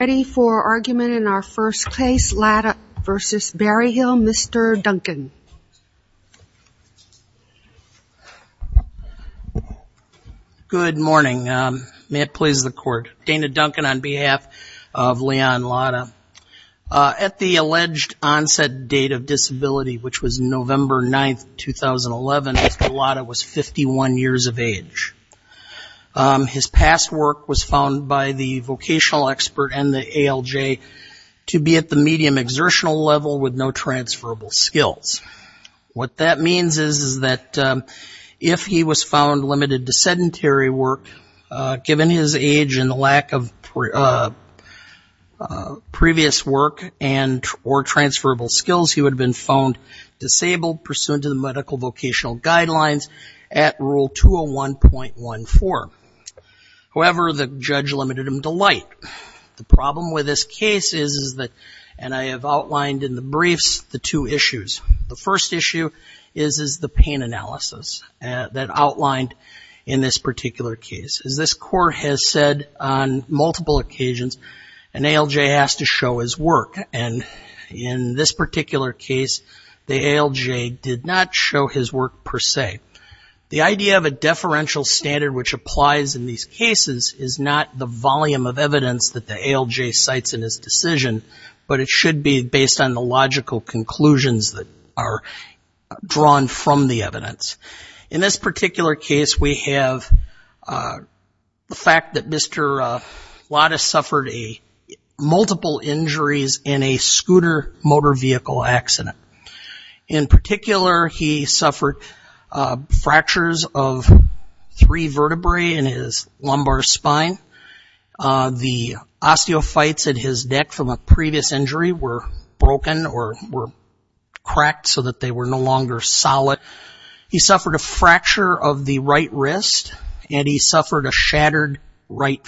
Ready for argument in our first case, Ladda v. Berryhill, Mr. Duncan. Good morning. May it please the Court. Dana Duncan on behalf of Leon Ladda. At the alleged onset date of disability, which was November 9, 2011, Mr. Ladda was 51 years of age. His past work was found by the vocational expert and the ALJ to be at the medium exertional level with no transferable skills. What that means is that if he was found limited to sedentary work, given his age and the lack of previous work and or transferable skills, he would have been found disabled pursuant to the medical vocational guidelines at Rule 201.14. However, the judge limited him to light. The problem with this case is that, and I have outlined in the briefs, the two issues. The first issue is the pain analysis that outlined in this particular case. As this Court has said on multiple occasions, an ALJ has to show his work. And in this particular case, the ALJ did not show his work per se. The idea of a deferential standard, which applies in these cases, is not the volume of evidence that the ALJ cites in his decision, but it should be based on the logical conclusions that are drawn from the evidence. In this particular case, we have the fact that Mr. Ladda suffered multiple injuries in a scooter motor vehicle accident. In particular, he suffered fractures of three vertebrae in his lumbar spine. The osteophytes in his neck from a previous injury were broken or were cracked so that they were no longer solid. He suffered a fracture of the right wrist and he suffered a shattered left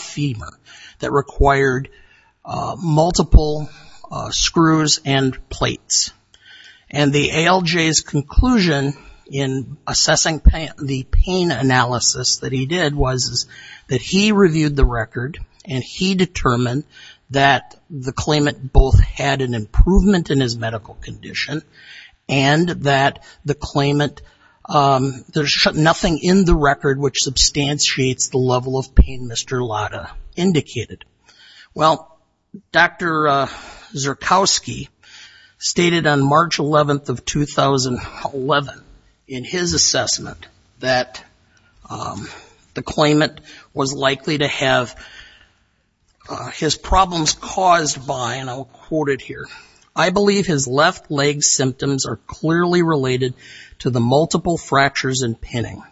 femur that required multiple screws and plates. And the ALJ's conclusion in assessing the pain analysis that he did was that he reviewed the record and he determined that the claimant both had an improvement in his nothing in the record which substantiates the level of pain Mr. Ladda indicated. Well, Dr. Zyrkowski stated on March 11th of 2011 in his assessment that the claimant was likely to have his problems caused by, and I'll quote it here, I believe his left leg symptoms are clearly related to the multiple fractures and pinning.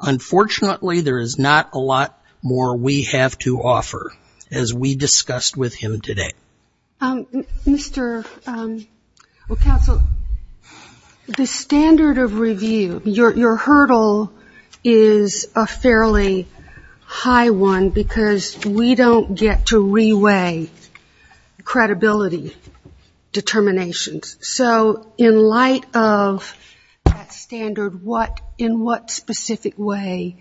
Unfortunately, there is not a lot more we have to offer as we discussed with him today. Mr. counsel, the standard of review, your hurdle is a fairly high one because we don't get to that standard. In what specific way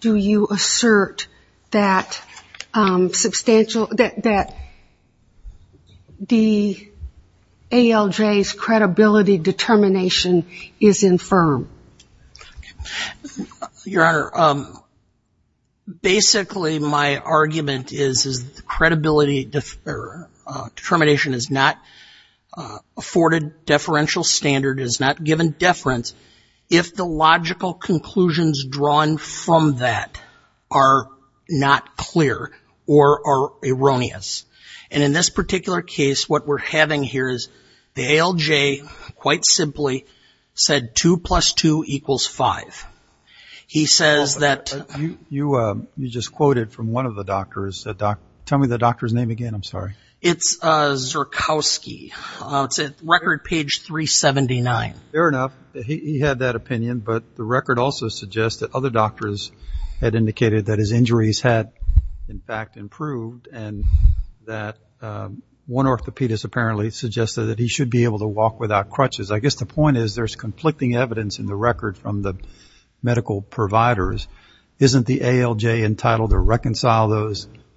do you assert that the ALJ's credibility determination is infirm? Your Honor, basically my argument is the credibility determination is not afforded and the deferential standard is not given deference if the logical conclusions drawn from that are not clear or are erroneous. And in this particular case, what we're having here is the ALJ quite simply said two plus two equals five. He says that... You just quoted from one of the doctors. Tell me the doctor's name again, I'm sorry. It's Zerkowski. It's at record page 379. Fair enough. He had that opinion, but the record also suggests that other doctors had indicated that his injuries had in fact improved and that one orthopedist apparently suggested that he should be able to walk without crutches. I guess the point is there's conflicting evidence in the record from the medical providers. Isn't the ALJ entitled to reconcile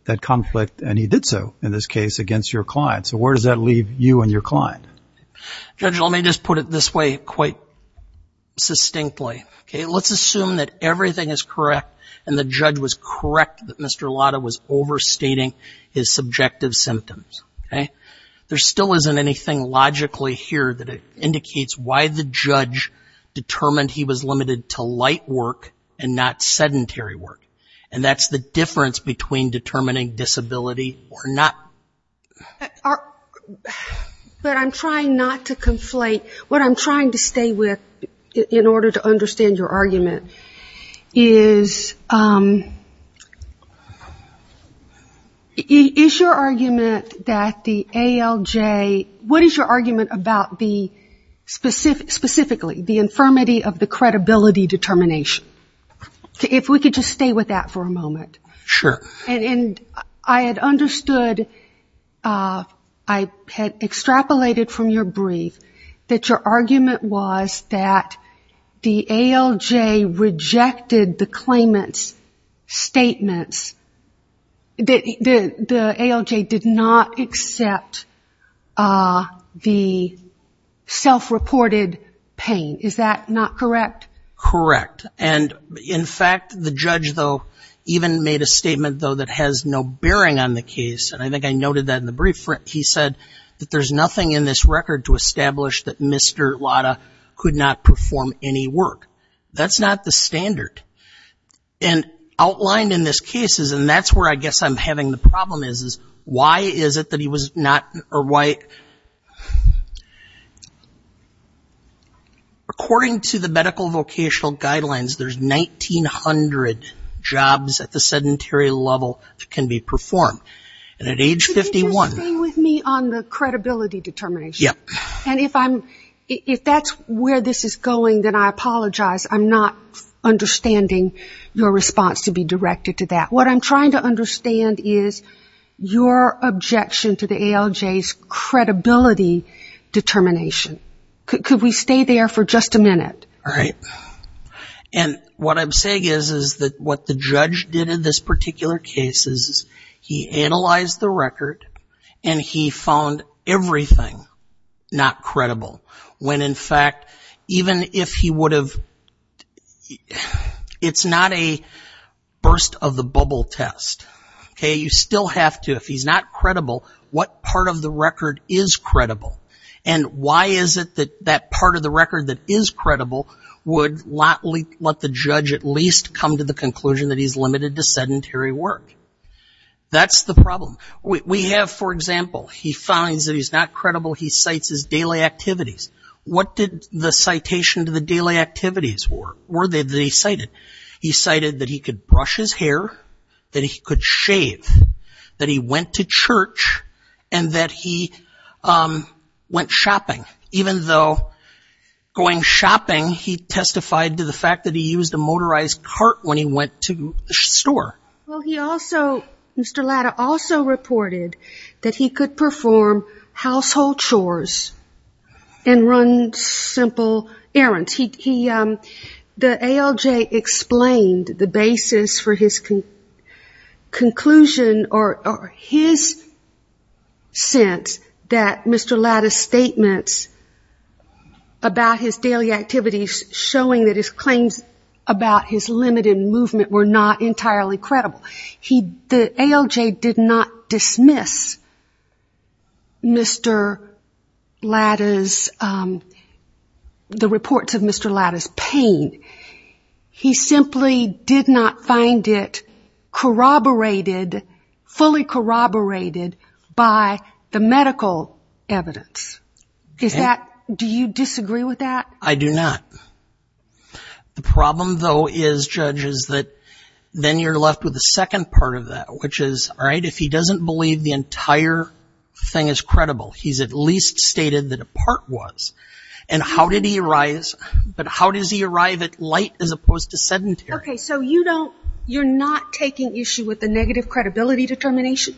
that conflict? And he did so in this case against your client. So where does that leave you and your client? Judge, let me just put it this way quite distinctly. Let's assume that everything is correct and the judge was correct that Mr. Lotta was overstating his subjective symptoms. There still isn't anything logically here that indicates why the judge determined he was limited to light work and not sedentary work. And that's the difference between determining disability or not. But I'm trying not to conflate. What I'm trying to stay with in order to understand your argument is... Is your argument that the ALJ... What is your argument about the... Specifically, the infirmity of the credibility determination. If we could just stay with that for a moment. Sure. And I had understood... I had extrapolated from your brief that your argument was that the ALJ rejected the claimant's statements. The ALJ did not accept the self-reported pain. Is that not correct? Correct. And in fact, the judge, though, even made a statement, though, that has no bearing on the case. And I think I noted that in the brief. He said that there's nothing in this record to establish that Mr. Lotta could not perform any work. That's not the standard. And outlined in this case is... And that's where I guess I'm having the problem is, is why is it that he was not... Or why... According to the medical vocational guidelines, there's 1,900 jobs at the sedentary level that can be performed. And at age 51... Could you just stay with me on the credibility determination? Yep. And if I'm... If that's where this is going, then I apologize. I'm not understanding your response to be directed to that. What I'm trying to understand is your objection to the ALJ's credibility determination. Could we stay there for just a minute? All right. And what I'm saying is, is that what the judge did in this particular case is he analyzed the record and he found everything not credible. When in fact, even if he would have... It's not a burst of the bubble test. Okay? You still have to, if he's not credible, what part of the record is credible? And why is it that that part of the record that is credible would let the judge at least come to the conclusion that he's limited to sedentary work? That's the problem. We have, for example, he finds that he's not credible. He cites his daily activities that he cited. He cited that he could brush his hair, that he could shave, that he went to church, and that he went shopping. Even though going shopping, he testified to the fact that he used a motorized cart when he went to the store. Well, he also... Mr. Latta also reported that he could perform household chores and run simple errands. The ALJ explained the basis for his conclusion or his sense that Mr. Latta's statements about his daily activities showing that his claims about his limited movement were not entirely credible. The ALJ did not dismiss Mr. Latta's, the reports of Mr. Latta's pain. He simply did not find it corroborated, fully corroborated by the medical evidence. Is that, do you disagree with that? I do not. The problem though is, Judge, is that then you're left with the second part of that, which is, all right, if he doesn't believe the entire thing is credible, he's at least stated that a part was. And how did he arise, but how does he arrive at light as opposed to sedentary? Okay, so you don't, you're not taking issue with the negative credibility determination?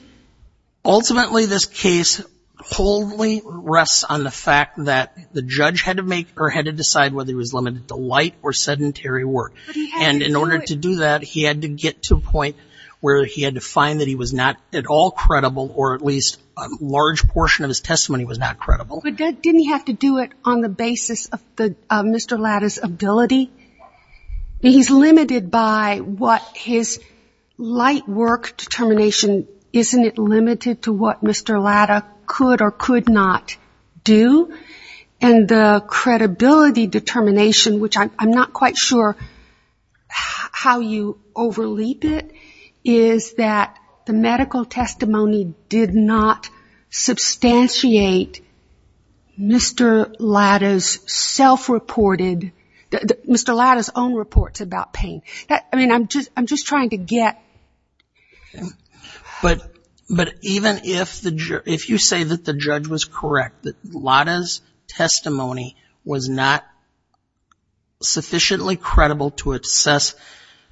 Ultimately, this case wholly rests on the fact that the judge had to make or had to decide whether he was limited to light or sedentary work. And in order to do that, he had to get to a point where he had to find that he was not at all credible, or at least a large portion of his testimony was not credible. But didn't he have to do it on the basis of Mr. Latta's ability? He's limited by what his light work determination, isn't it limited to what Mr. Latta could or could not do? And the credibility determination, which I'm not quite sure how you overleap it, is that the medical testimony did not substantiate Mr. Latta's self-reported, Mr. Latta's own reports about pain. I mean, I'm just trying to get... But even if you say that the judge was correct, that Latta's testimony was not sufficiently credible to assess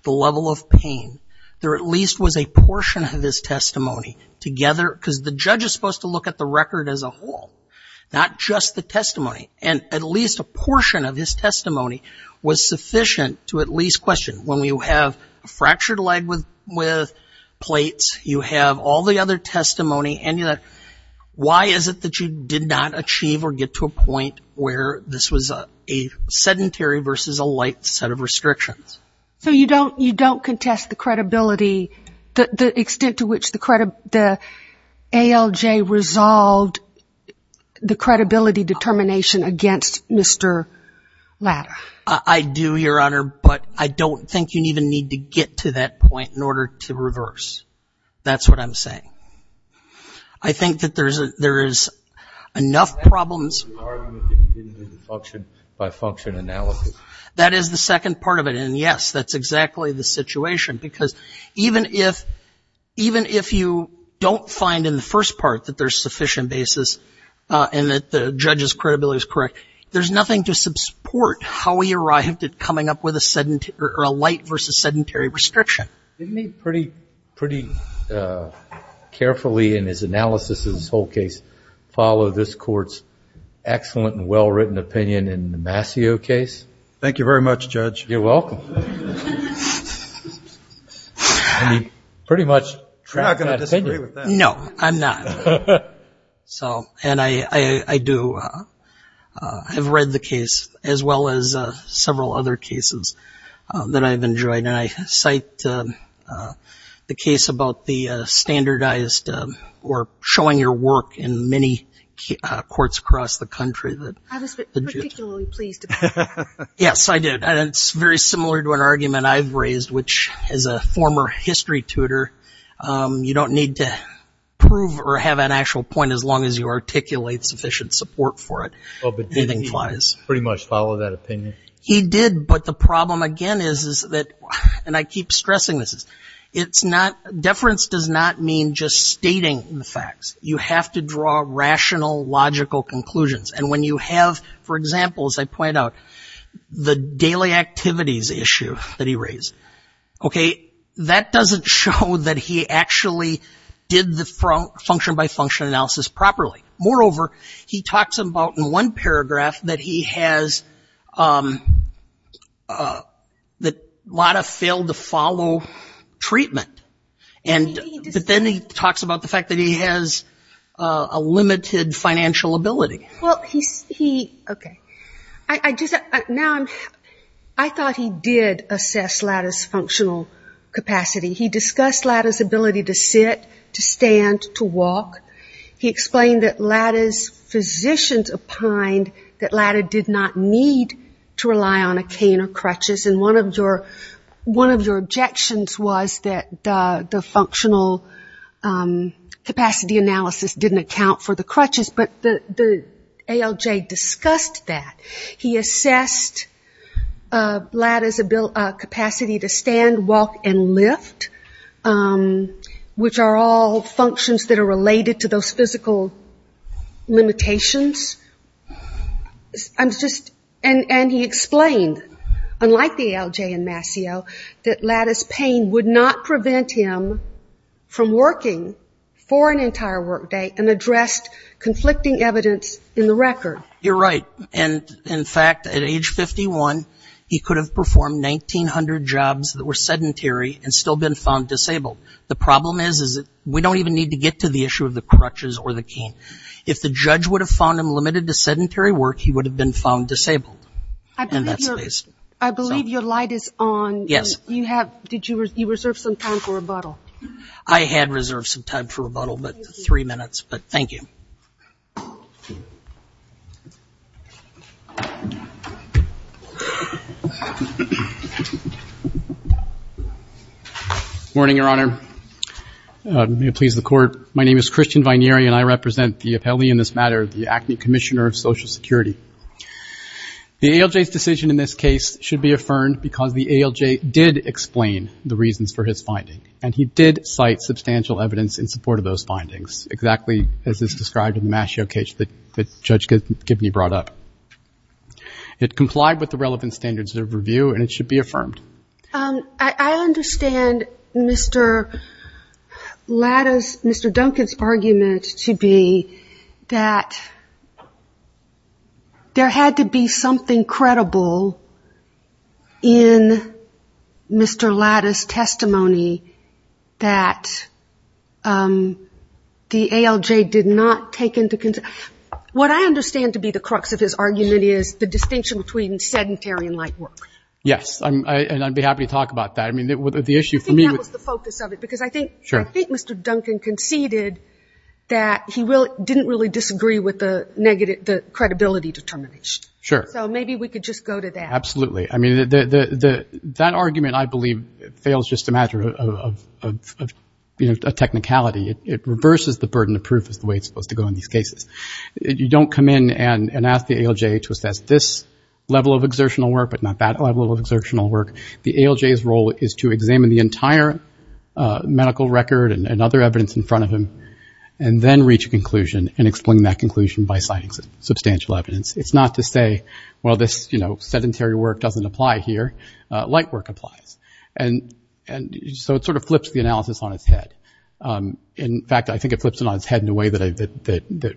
the level of pain, there at least was a portion of his testimony together, because the judge is supposed to look at the record as a whole, not just the testimony. And at least a portion of his testimony was sufficient to at least question when you have fractured leg with plates, you have all the other testimony. And why is it that you did not achieve or get to a point where this was a sedentary versus a light set of restrictions? So you don't contest the credibility, the extent to which the ALJ resolved the credibility determination against Mr. Latta? I do, Your Honor, but I don't think you even need to get to that point in order to reverse. That's what I'm saying. I think that there is enough problems... Is that the argument that you didn't do the function-by-function analysis? That is the second part of it. And yes, that's exactly the situation. Because even if you don't find in the first part that there's sufficient basis and that the judge's credibility is correct, there's nothing to support how he arrived at coming up with a light versus sedentary restriction. Didn't he pretty carefully in his analysis of this whole case follow this court's excellent and well-written opinion in the Mascio case? Thank you very much, Judge. You're welcome. And he pretty much... You're not going to disagree with that. No, I'm not. And I do. I've read the case as well as several other cases that I've enjoyed. And I cite the case about the standardized or showing your work in many courts across the country. I was particularly pleased about that. Yes, I did. And it's very similar to an argument I've raised, which as a former history tutor, you don't need to prove or have an actual point as long as you articulate sufficient support for it. But didn't he pretty much follow that opinion? He did. But the problem again is that, and I keep stressing this, deference does not mean just stating the facts. You have to draw rational, logical conclusions. And when you have, for example, as I point out, the daily activities issue that he raised, okay, that doesn't show that he actually did the function-by-function analysis properly. Moreover, he talks about in one paragraph that he has, that Latta failed to follow treatment. And then he talks about the fact that he has a limited financial ability. Well, he, okay. Now, I thought he did assess Latta's functional capacity. He discussed Latta's ability to sit, to stand, to walk. He explained that Latta's physicians opined that Latta did not need to rely on a cane or crutches. And one of your objections was that the functional capacity analysis didn't account for the crutches. But the ALJ discussed that. He assessed Latta's capacity to stand, walk, and lift, which are all functions that are related to those physical limitations. I'm just, and he explained, unlike the ALJ and Mascio, that Latta's pain would not prevent him from working for an entire workday and addressed conflicting evidence in the record. You're right. And in fact, at age 51, he could have performed 1,900 jobs that were sedentary and still been found disabled. The problem is, is that we don't even need to get to the issue of the crutches or the cane. If the judge would have found him limited to sedentary work, he would have been found disabled in that space. I believe your light is on. Yes. You have, did you reserve some time for rebuttal? I had reserved some time for rebuttal, but three minutes. But thank you. Morning, Your Honor. May it please the Court. My name is Christian Vineri, and I represent the appellee in this matter, the ACME Commissioner of Social Security. The ALJ's decision in this case should be affirmed because the ALJ did explain the reasons for his finding. And he did cite substantial evidence in support of those findings, exactly as is described in the match showcase that Judge Gibney brought up. It complied with the relevant standards of review, and it should be affirmed. I understand Mr. Latta's, Mr. Duncan's argument to be that there had to be something credible in Mr. Latta's testimony that the ALJ did not take into consideration. What I understand to be the crux of his argument is the distinction between sedentary and light work. Yes. And I'd be happy to talk about that. I mean, the issue for me was. I think that was the focus of it, because I think Mr. Duncan conceded that he didn't really disagree with the credibility determination. Sure. So maybe we could just go to that. Absolutely. That argument, I believe, fails just a matter of technicality. It reverses the burden of proof is the way it's supposed to go in these cases. You don't come in and ask the ALJ to assess this level of exertional work, but not that level of exertional work. The ALJ's role is to examine the entire medical record and other evidence in front of him, and then reach a conclusion and explain that conclusion by citing substantial evidence. It's not to say, well, this, you know, sedentary work doesn't apply here. Light work applies. And so it sort of flips the analysis on its head. In fact, I think it flips it on its head in a way that the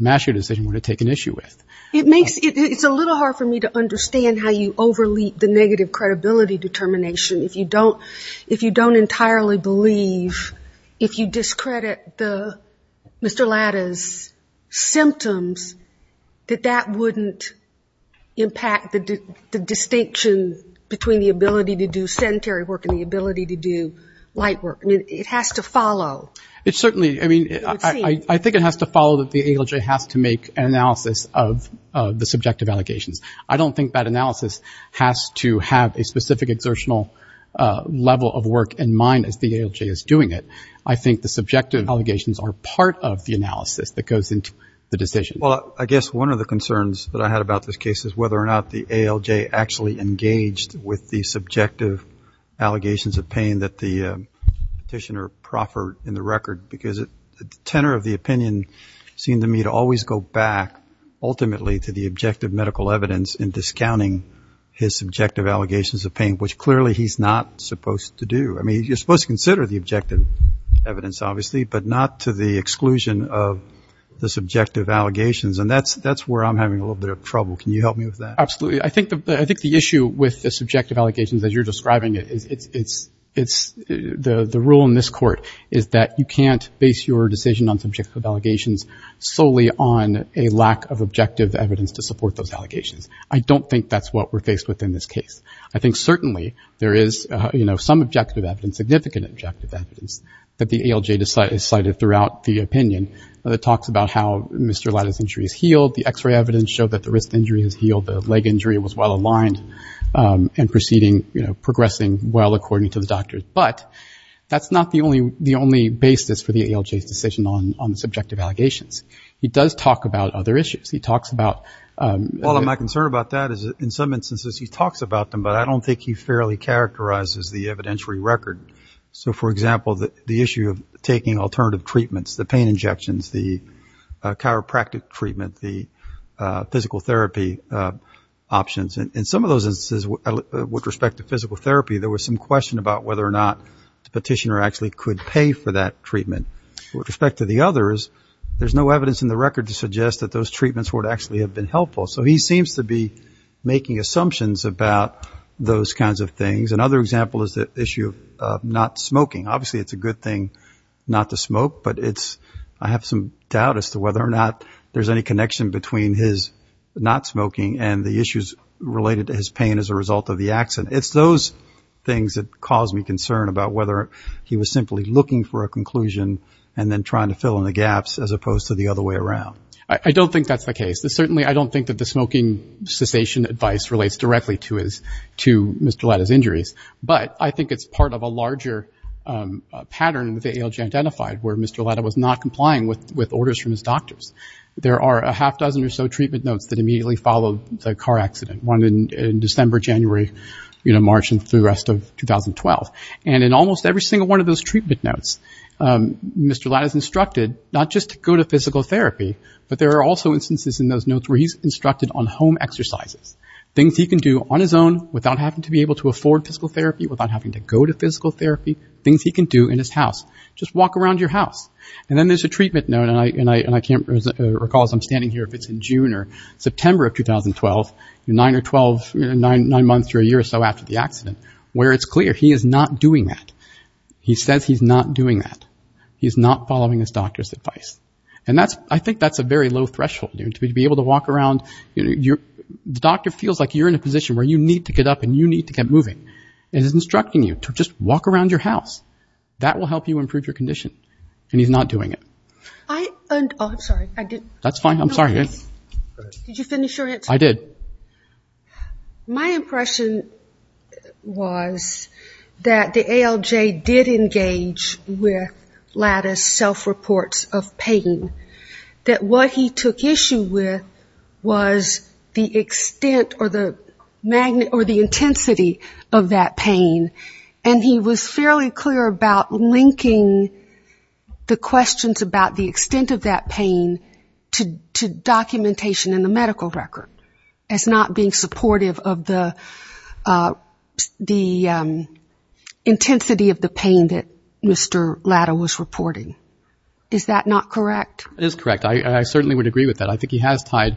Mashear decision would have taken issue with. It makes it's a little hard for me to understand how you over-leap the negative credibility determination. If you don't entirely believe, if you discredit Mr. Latta's symptoms, that that wouldn't impact the distinction between the ability to do sedentary work and the ability to do light work. I mean, it has to follow. I think it has to follow that the ALJ has to make an analysis of the subjective allegations. I don't think that analysis has to have a specific exertional level of work in mind as the ALJ is doing it. I think the subjective allegations are part of the analysis that goes into the decision. Well, I guess one of the concerns that I had about this case is whether or not the ALJ actually engaged with the subjective allegations of pain that the petitioner proffered in the record, because the tenor of the opinion seemed to me to always go back, ultimately, to the objective medical evidence in discounting his subjective allegations of pain, which clearly he's not supposed to do. I mean, you're supposed to consider the objective evidence, obviously, but not to the exclusion of the subjective allegations. And that's where I'm having a little bit of trouble. Can you help me with that? Absolutely. I think the issue with the subjective allegations, as you're describing it, the rule in this court is that you can't base your decision on subjective allegations solely on a lack of objective evidence to support those allegations. I don't think that's what we're faced with in this case. I think certainly there is some objective evidence, significant objective evidence, that the ALJ decided throughout the opinion that talks about how Mr. Latta's injury is healed. The X-ray evidence showed that the wrist injury is healed. The leg injury was well aligned and progressing well according to the doctors. But that's not the only basis for the ALJ's decision on the subjective allegations. He does talk about other issues. He talks about... Well, my concern about that is in some instances he talks about them, but I don't think he fairly characterizes the evidentiary record. So, for example, the issue of taking alternative treatments, the pain injections, the chiropractic treatment, the physical therapy options. In some of those instances, with respect to physical therapy, there was some question about whether or not the petitioner actually could pay for that treatment. With respect to the others, there's no evidence in the record to suggest that those treatments would actually have been helpful. So he seems to be making assumptions about those kinds of things. Another example is the issue of not smoking. Obviously, it's a good thing not to smoke, but I have some doubt as to whether or not there's any connection between his not smoking and the issues related to his pain as a result of the accident. It's those things that cause me concern about whether he was simply looking for a conclusion and then trying to fill in the gaps as opposed to the other way around. I don't think that's the case. Certainly, I don't think that the smoking cessation advice relates directly to Mr. Lata's injuries, but I think it's part of a larger pattern with the ALJ Identified where Mr. Lata was not complying with orders from his doctors. There are a half dozen or so treatment notes that immediately followed the car accident, one in December, January, March, and through the rest of 2012. And in almost every single one of those treatment notes, Mr. Lata is instructed not just to go to physical therapy, but there are also instances in those notes where he's instructed on home exercises, things he can do on his own without having to be able to afford physical therapy, without having to go to physical therapy, things he can do in his house. Just walk around your house. And then there's a treatment note, and I can't recall as I'm standing here if it's in June or September of 2012, nine months or a year or so after the accident, where it's clear he is not doing that. He says he's not doing that. He's not following his doctor's advice. And I think that's a very low threshold. To be able to walk around, the doctor feels like you're in a position where you need to get up and you need to get moving. And he's instructing you to just walk around your house. That will help you improve your condition. And he's not doing it. I'm sorry. I did. That's fine. I'm sorry. Did you finish your answer? I did. My impression was that the ALJ did engage with lattice self-reports of pain. That what he took issue with was the extent or the intensity of that pain. And he was fairly clear about linking the questions about the extent of that pain to documentation in the medical record as not being supportive of the intensity of the pain that Mr. Latta was reporting. Is that not correct? It is correct. I certainly would agree with that. I think he has tied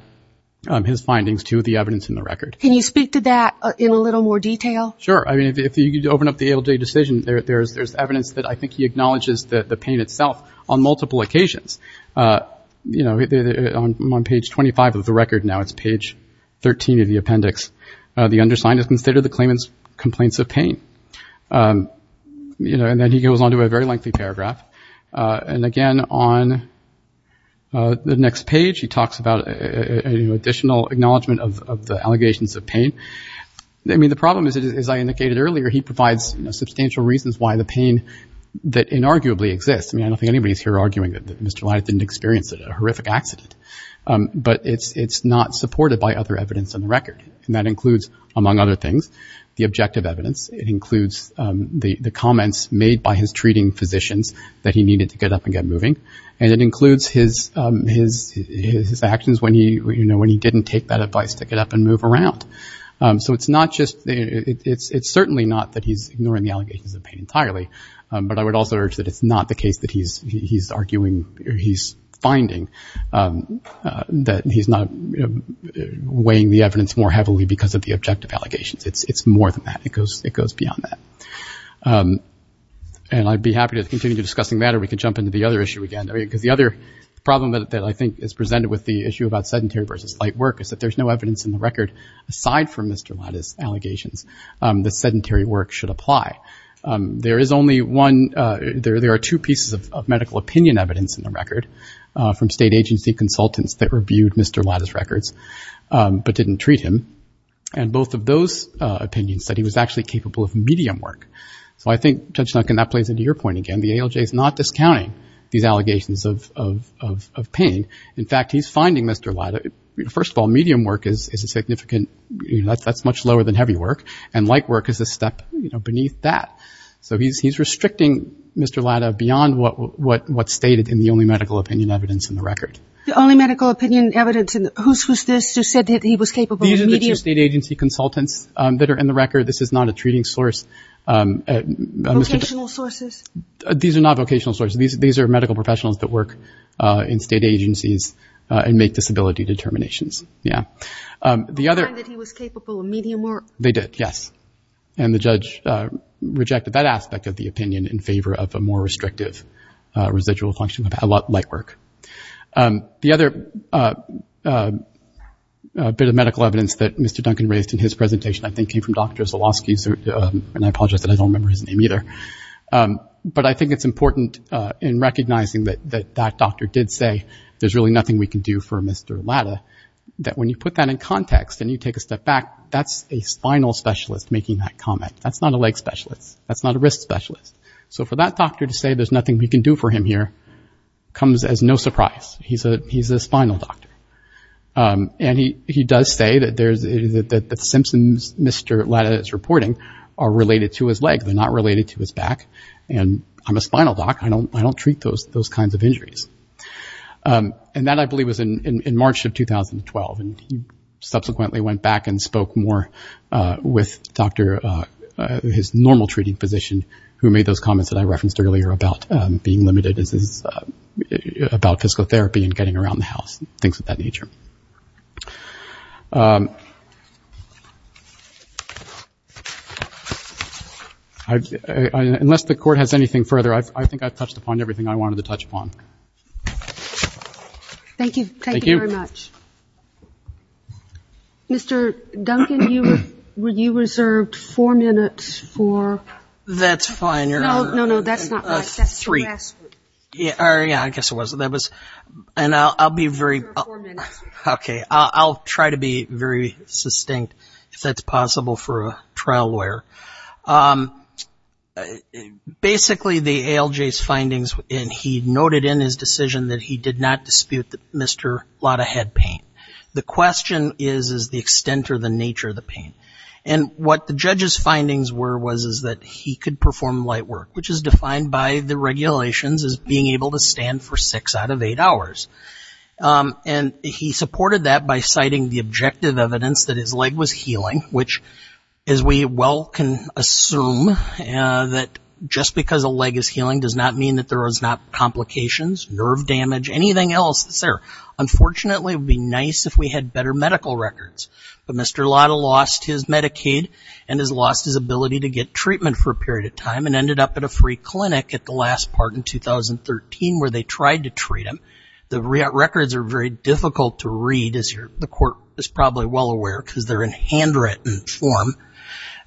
his findings to the evidence in the record. Can you speak to that in a little more detail? Sure. If you open up the ALJ decision, there's evidence that I think he acknowledges the pain itself on multiple occasions. On page 25 of the record now, it's page 13 of the appendix, the undersigned has considered the claimant's complaints of pain. And then he goes on to a very lengthy paragraph. And again, on the next page, he talks about additional acknowledgement of the allegations of pain. I mean, the problem is, as I indicated earlier, he provides substantial reasons why the pain that inarguably exists. I mean, I don't think anybody's here arguing that Mr. Latta didn't experience a horrific accident. But it's not supported by other evidence on the record. And that includes, among other things, the objective evidence. It includes the comments made by his treating physicians that he needed to get up and get moving. And it includes his actions when he didn't take that advice to get up and move around. So it's certainly not that he's ignoring the allegations of pain entirely. But I would also urge that it's not the case that he's finding that he's not weighing the evidence more heavily because of the objective allegations. It's more than that. It goes beyond that. And I'd be happy to continue discussing that, or we could jump into the other issue again. Because the other problem that I think is presented with the issue about sedentary versus light work is that there's no evidence in the record, aside from Mr. Latta's allegations, that sedentary work should apply. There are two pieces of medical opinion evidence in the record from state agency consultants that reviewed Mr. Latta's records but didn't treat him. And both of those opinions said he was actually capable of medium work. So I think, Judge Duncan, that plays into your point again. The ALJ is not discounting these allegations of pain. In fact, he's finding, Mr. Latta, first of all, medium work is significant. That's much lower than heavy work. And light work is a step beneath that. So he's restricting Mr. Latta beyond what's stated in the only medical opinion evidence in the record. The only medical opinion evidence? Whose was this who said that he was capable of medium? These are the two state agency consultants that are in the record. This is not a treating source. Vocational sources? These are not vocational sources. These are medical professionals that work in state agencies and make disability determinations. I find that he was capable of medium work. They did, yes. And the judge rejected that aspect of the opinion in favor of a more restrictive residual function of light work. The other bit of medical evidence that Mr. Duncan raised in his presentation, I think, came from Dr. Zolosky. And I apologize that I don't remember his name either. But I think it's important in recognizing that that doctor did say there's really nothing we can do for Mr. Latta, that when you put that in context and you take a step back, that's a spinal specialist making that comment. That's not a leg specialist. That's not a wrist specialist. So for that doctor to say there's nothing we can do for him here comes as no surprise. He's a spinal doctor. And he does say that the symptoms Mr. Latta is reporting are related to his leg. They're not related to his back. And I'm a spinal doc. I don't treat those kinds of injuries. And that, I believe, was in March of 2012. And he subsequently went back and spoke more with his normal treating physician, who made those comments that I referenced earlier about being limited about physical therapy and getting around the house, things of that nature. Unless the court has anything further, I think I've touched upon everything I wanted to touch upon. Thank you. Thank you very much. Mr. Duncan, you reserved four minutes for? That's fine. No, no, no. That's not right. That's the last three. Yeah, I guess it was. And I'll be very, okay, I'll try to be very succinct if that's possible for a trial lawyer. But basically, the ALJ's findings, and he noted in his decision that he did not dispute that Mr. Latta had pain. The question is, is the extent or the nature of the pain? And what the judge's findings were was is that he could perform light work, which is defined by the regulations as being able to stand for six out of eight hours. And he supported that by citing the objective evidence that his leg was healing, which, as we well can assume, that just because a leg is healing does not mean that there was not complications, nerve damage, anything else that's there. Unfortunately, it would be nice if we had better medical records. But Mr. Latta lost his Medicaid and has lost his ability to get treatment for a period of time and ended up at a free clinic at the last part in 2013 where they tried to treat him. The records are very difficult to read, as the court is probably well aware, because they're in handwritten form.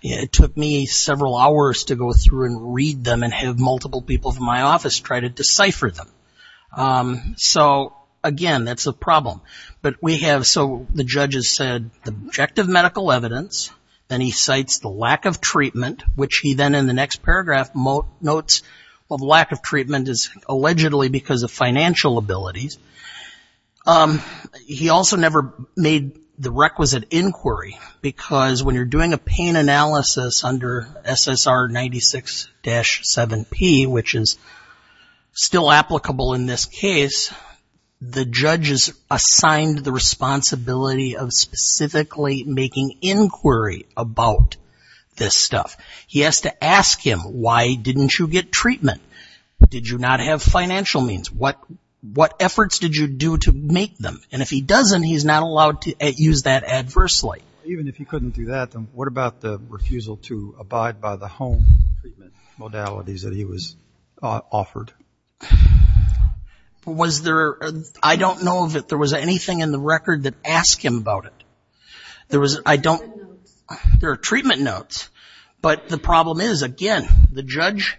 It took me several hours to go through and read them and have multiple people from my office try to decipher them. So again, that's a problem. But we have, so the judge has said the objective medical evidence, then he cites the lack of treatment, which he then in the next paragraph notes of lack of treatment is allegedly because of financial abilities. He also never made the requisite inquiry because when you're doing a pain analysis under SSR 96-7P, which is still applicable in this case, the judge is assigned the responsibility of specifically making inquiry about this stuff. He has to ask him, why didn't you get treatment? Did you not have financial means? What efforts did you do to make them? And if he doesn't, he's not allowed to use that adversely. Even if he couldn't do that, then what about the refusal to abide by the home treatment modalities that he was offered? I don't know that there was anything in the record that asked him about it. There are treatment notes, but the problem is, again, the judge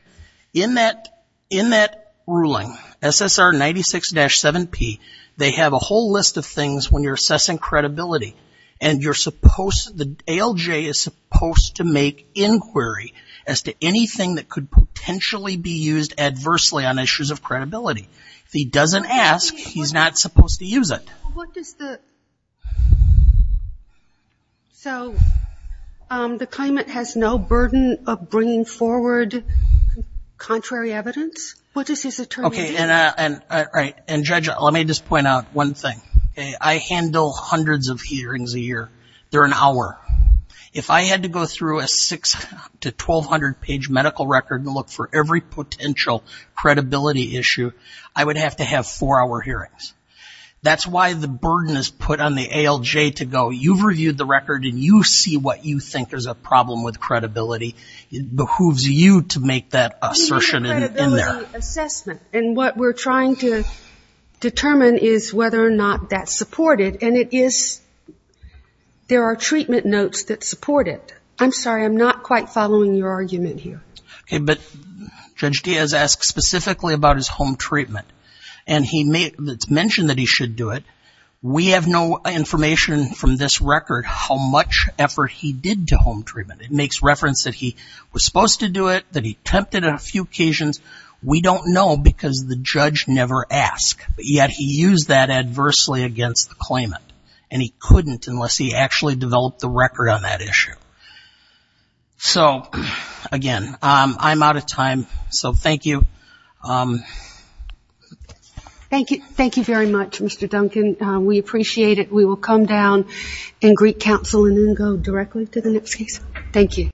in that ruling, SSR 96-7P, they have a whole list of things when you're assessing credibility. And you're supposed, the ALJ is supposed to make inquiry as to anything that could potentially be used adversely on issues of credibility. If he doesn't ask, he's not supposed to use it. So the claimant has no burden of bringing forward contrary evidence? What is his attorney? Okay, and judge, let me just point out one thing. I handle hundreds of hearings a year. They're an hour. If I had to go through a 6 to 1,200 page medical record and look for every potential credibility issue, I would have to have four hour hearings. That's why the burden is put on the ALJ to go, you've reviewed the record and you see what you think is a problem with credibility. It behooves you to make that assertion in there. And what we're trying to determine is whether or not that's supported. And it is, there are treatment notes that support it. I'm sorry, I'm not quite following your argument here. Okay, but Judge Diaz asked specifically about his home treatment. And he mentioned that he should do it. We have no information from this record how much effort he did to home treatment. It makes reference that he was supposed to do it, that he attempted a few occasions. We don't know because the judge never asked. But yet he used that adversely against the claimant. And he couldn't unless he actually developed the record on that issue. So again, I'm out of time. So thank you. Thank you. Thank you very much, Mr. Duncan. We appreciate it. We will come down and greet counsel and then go directly to the next case. Thank you.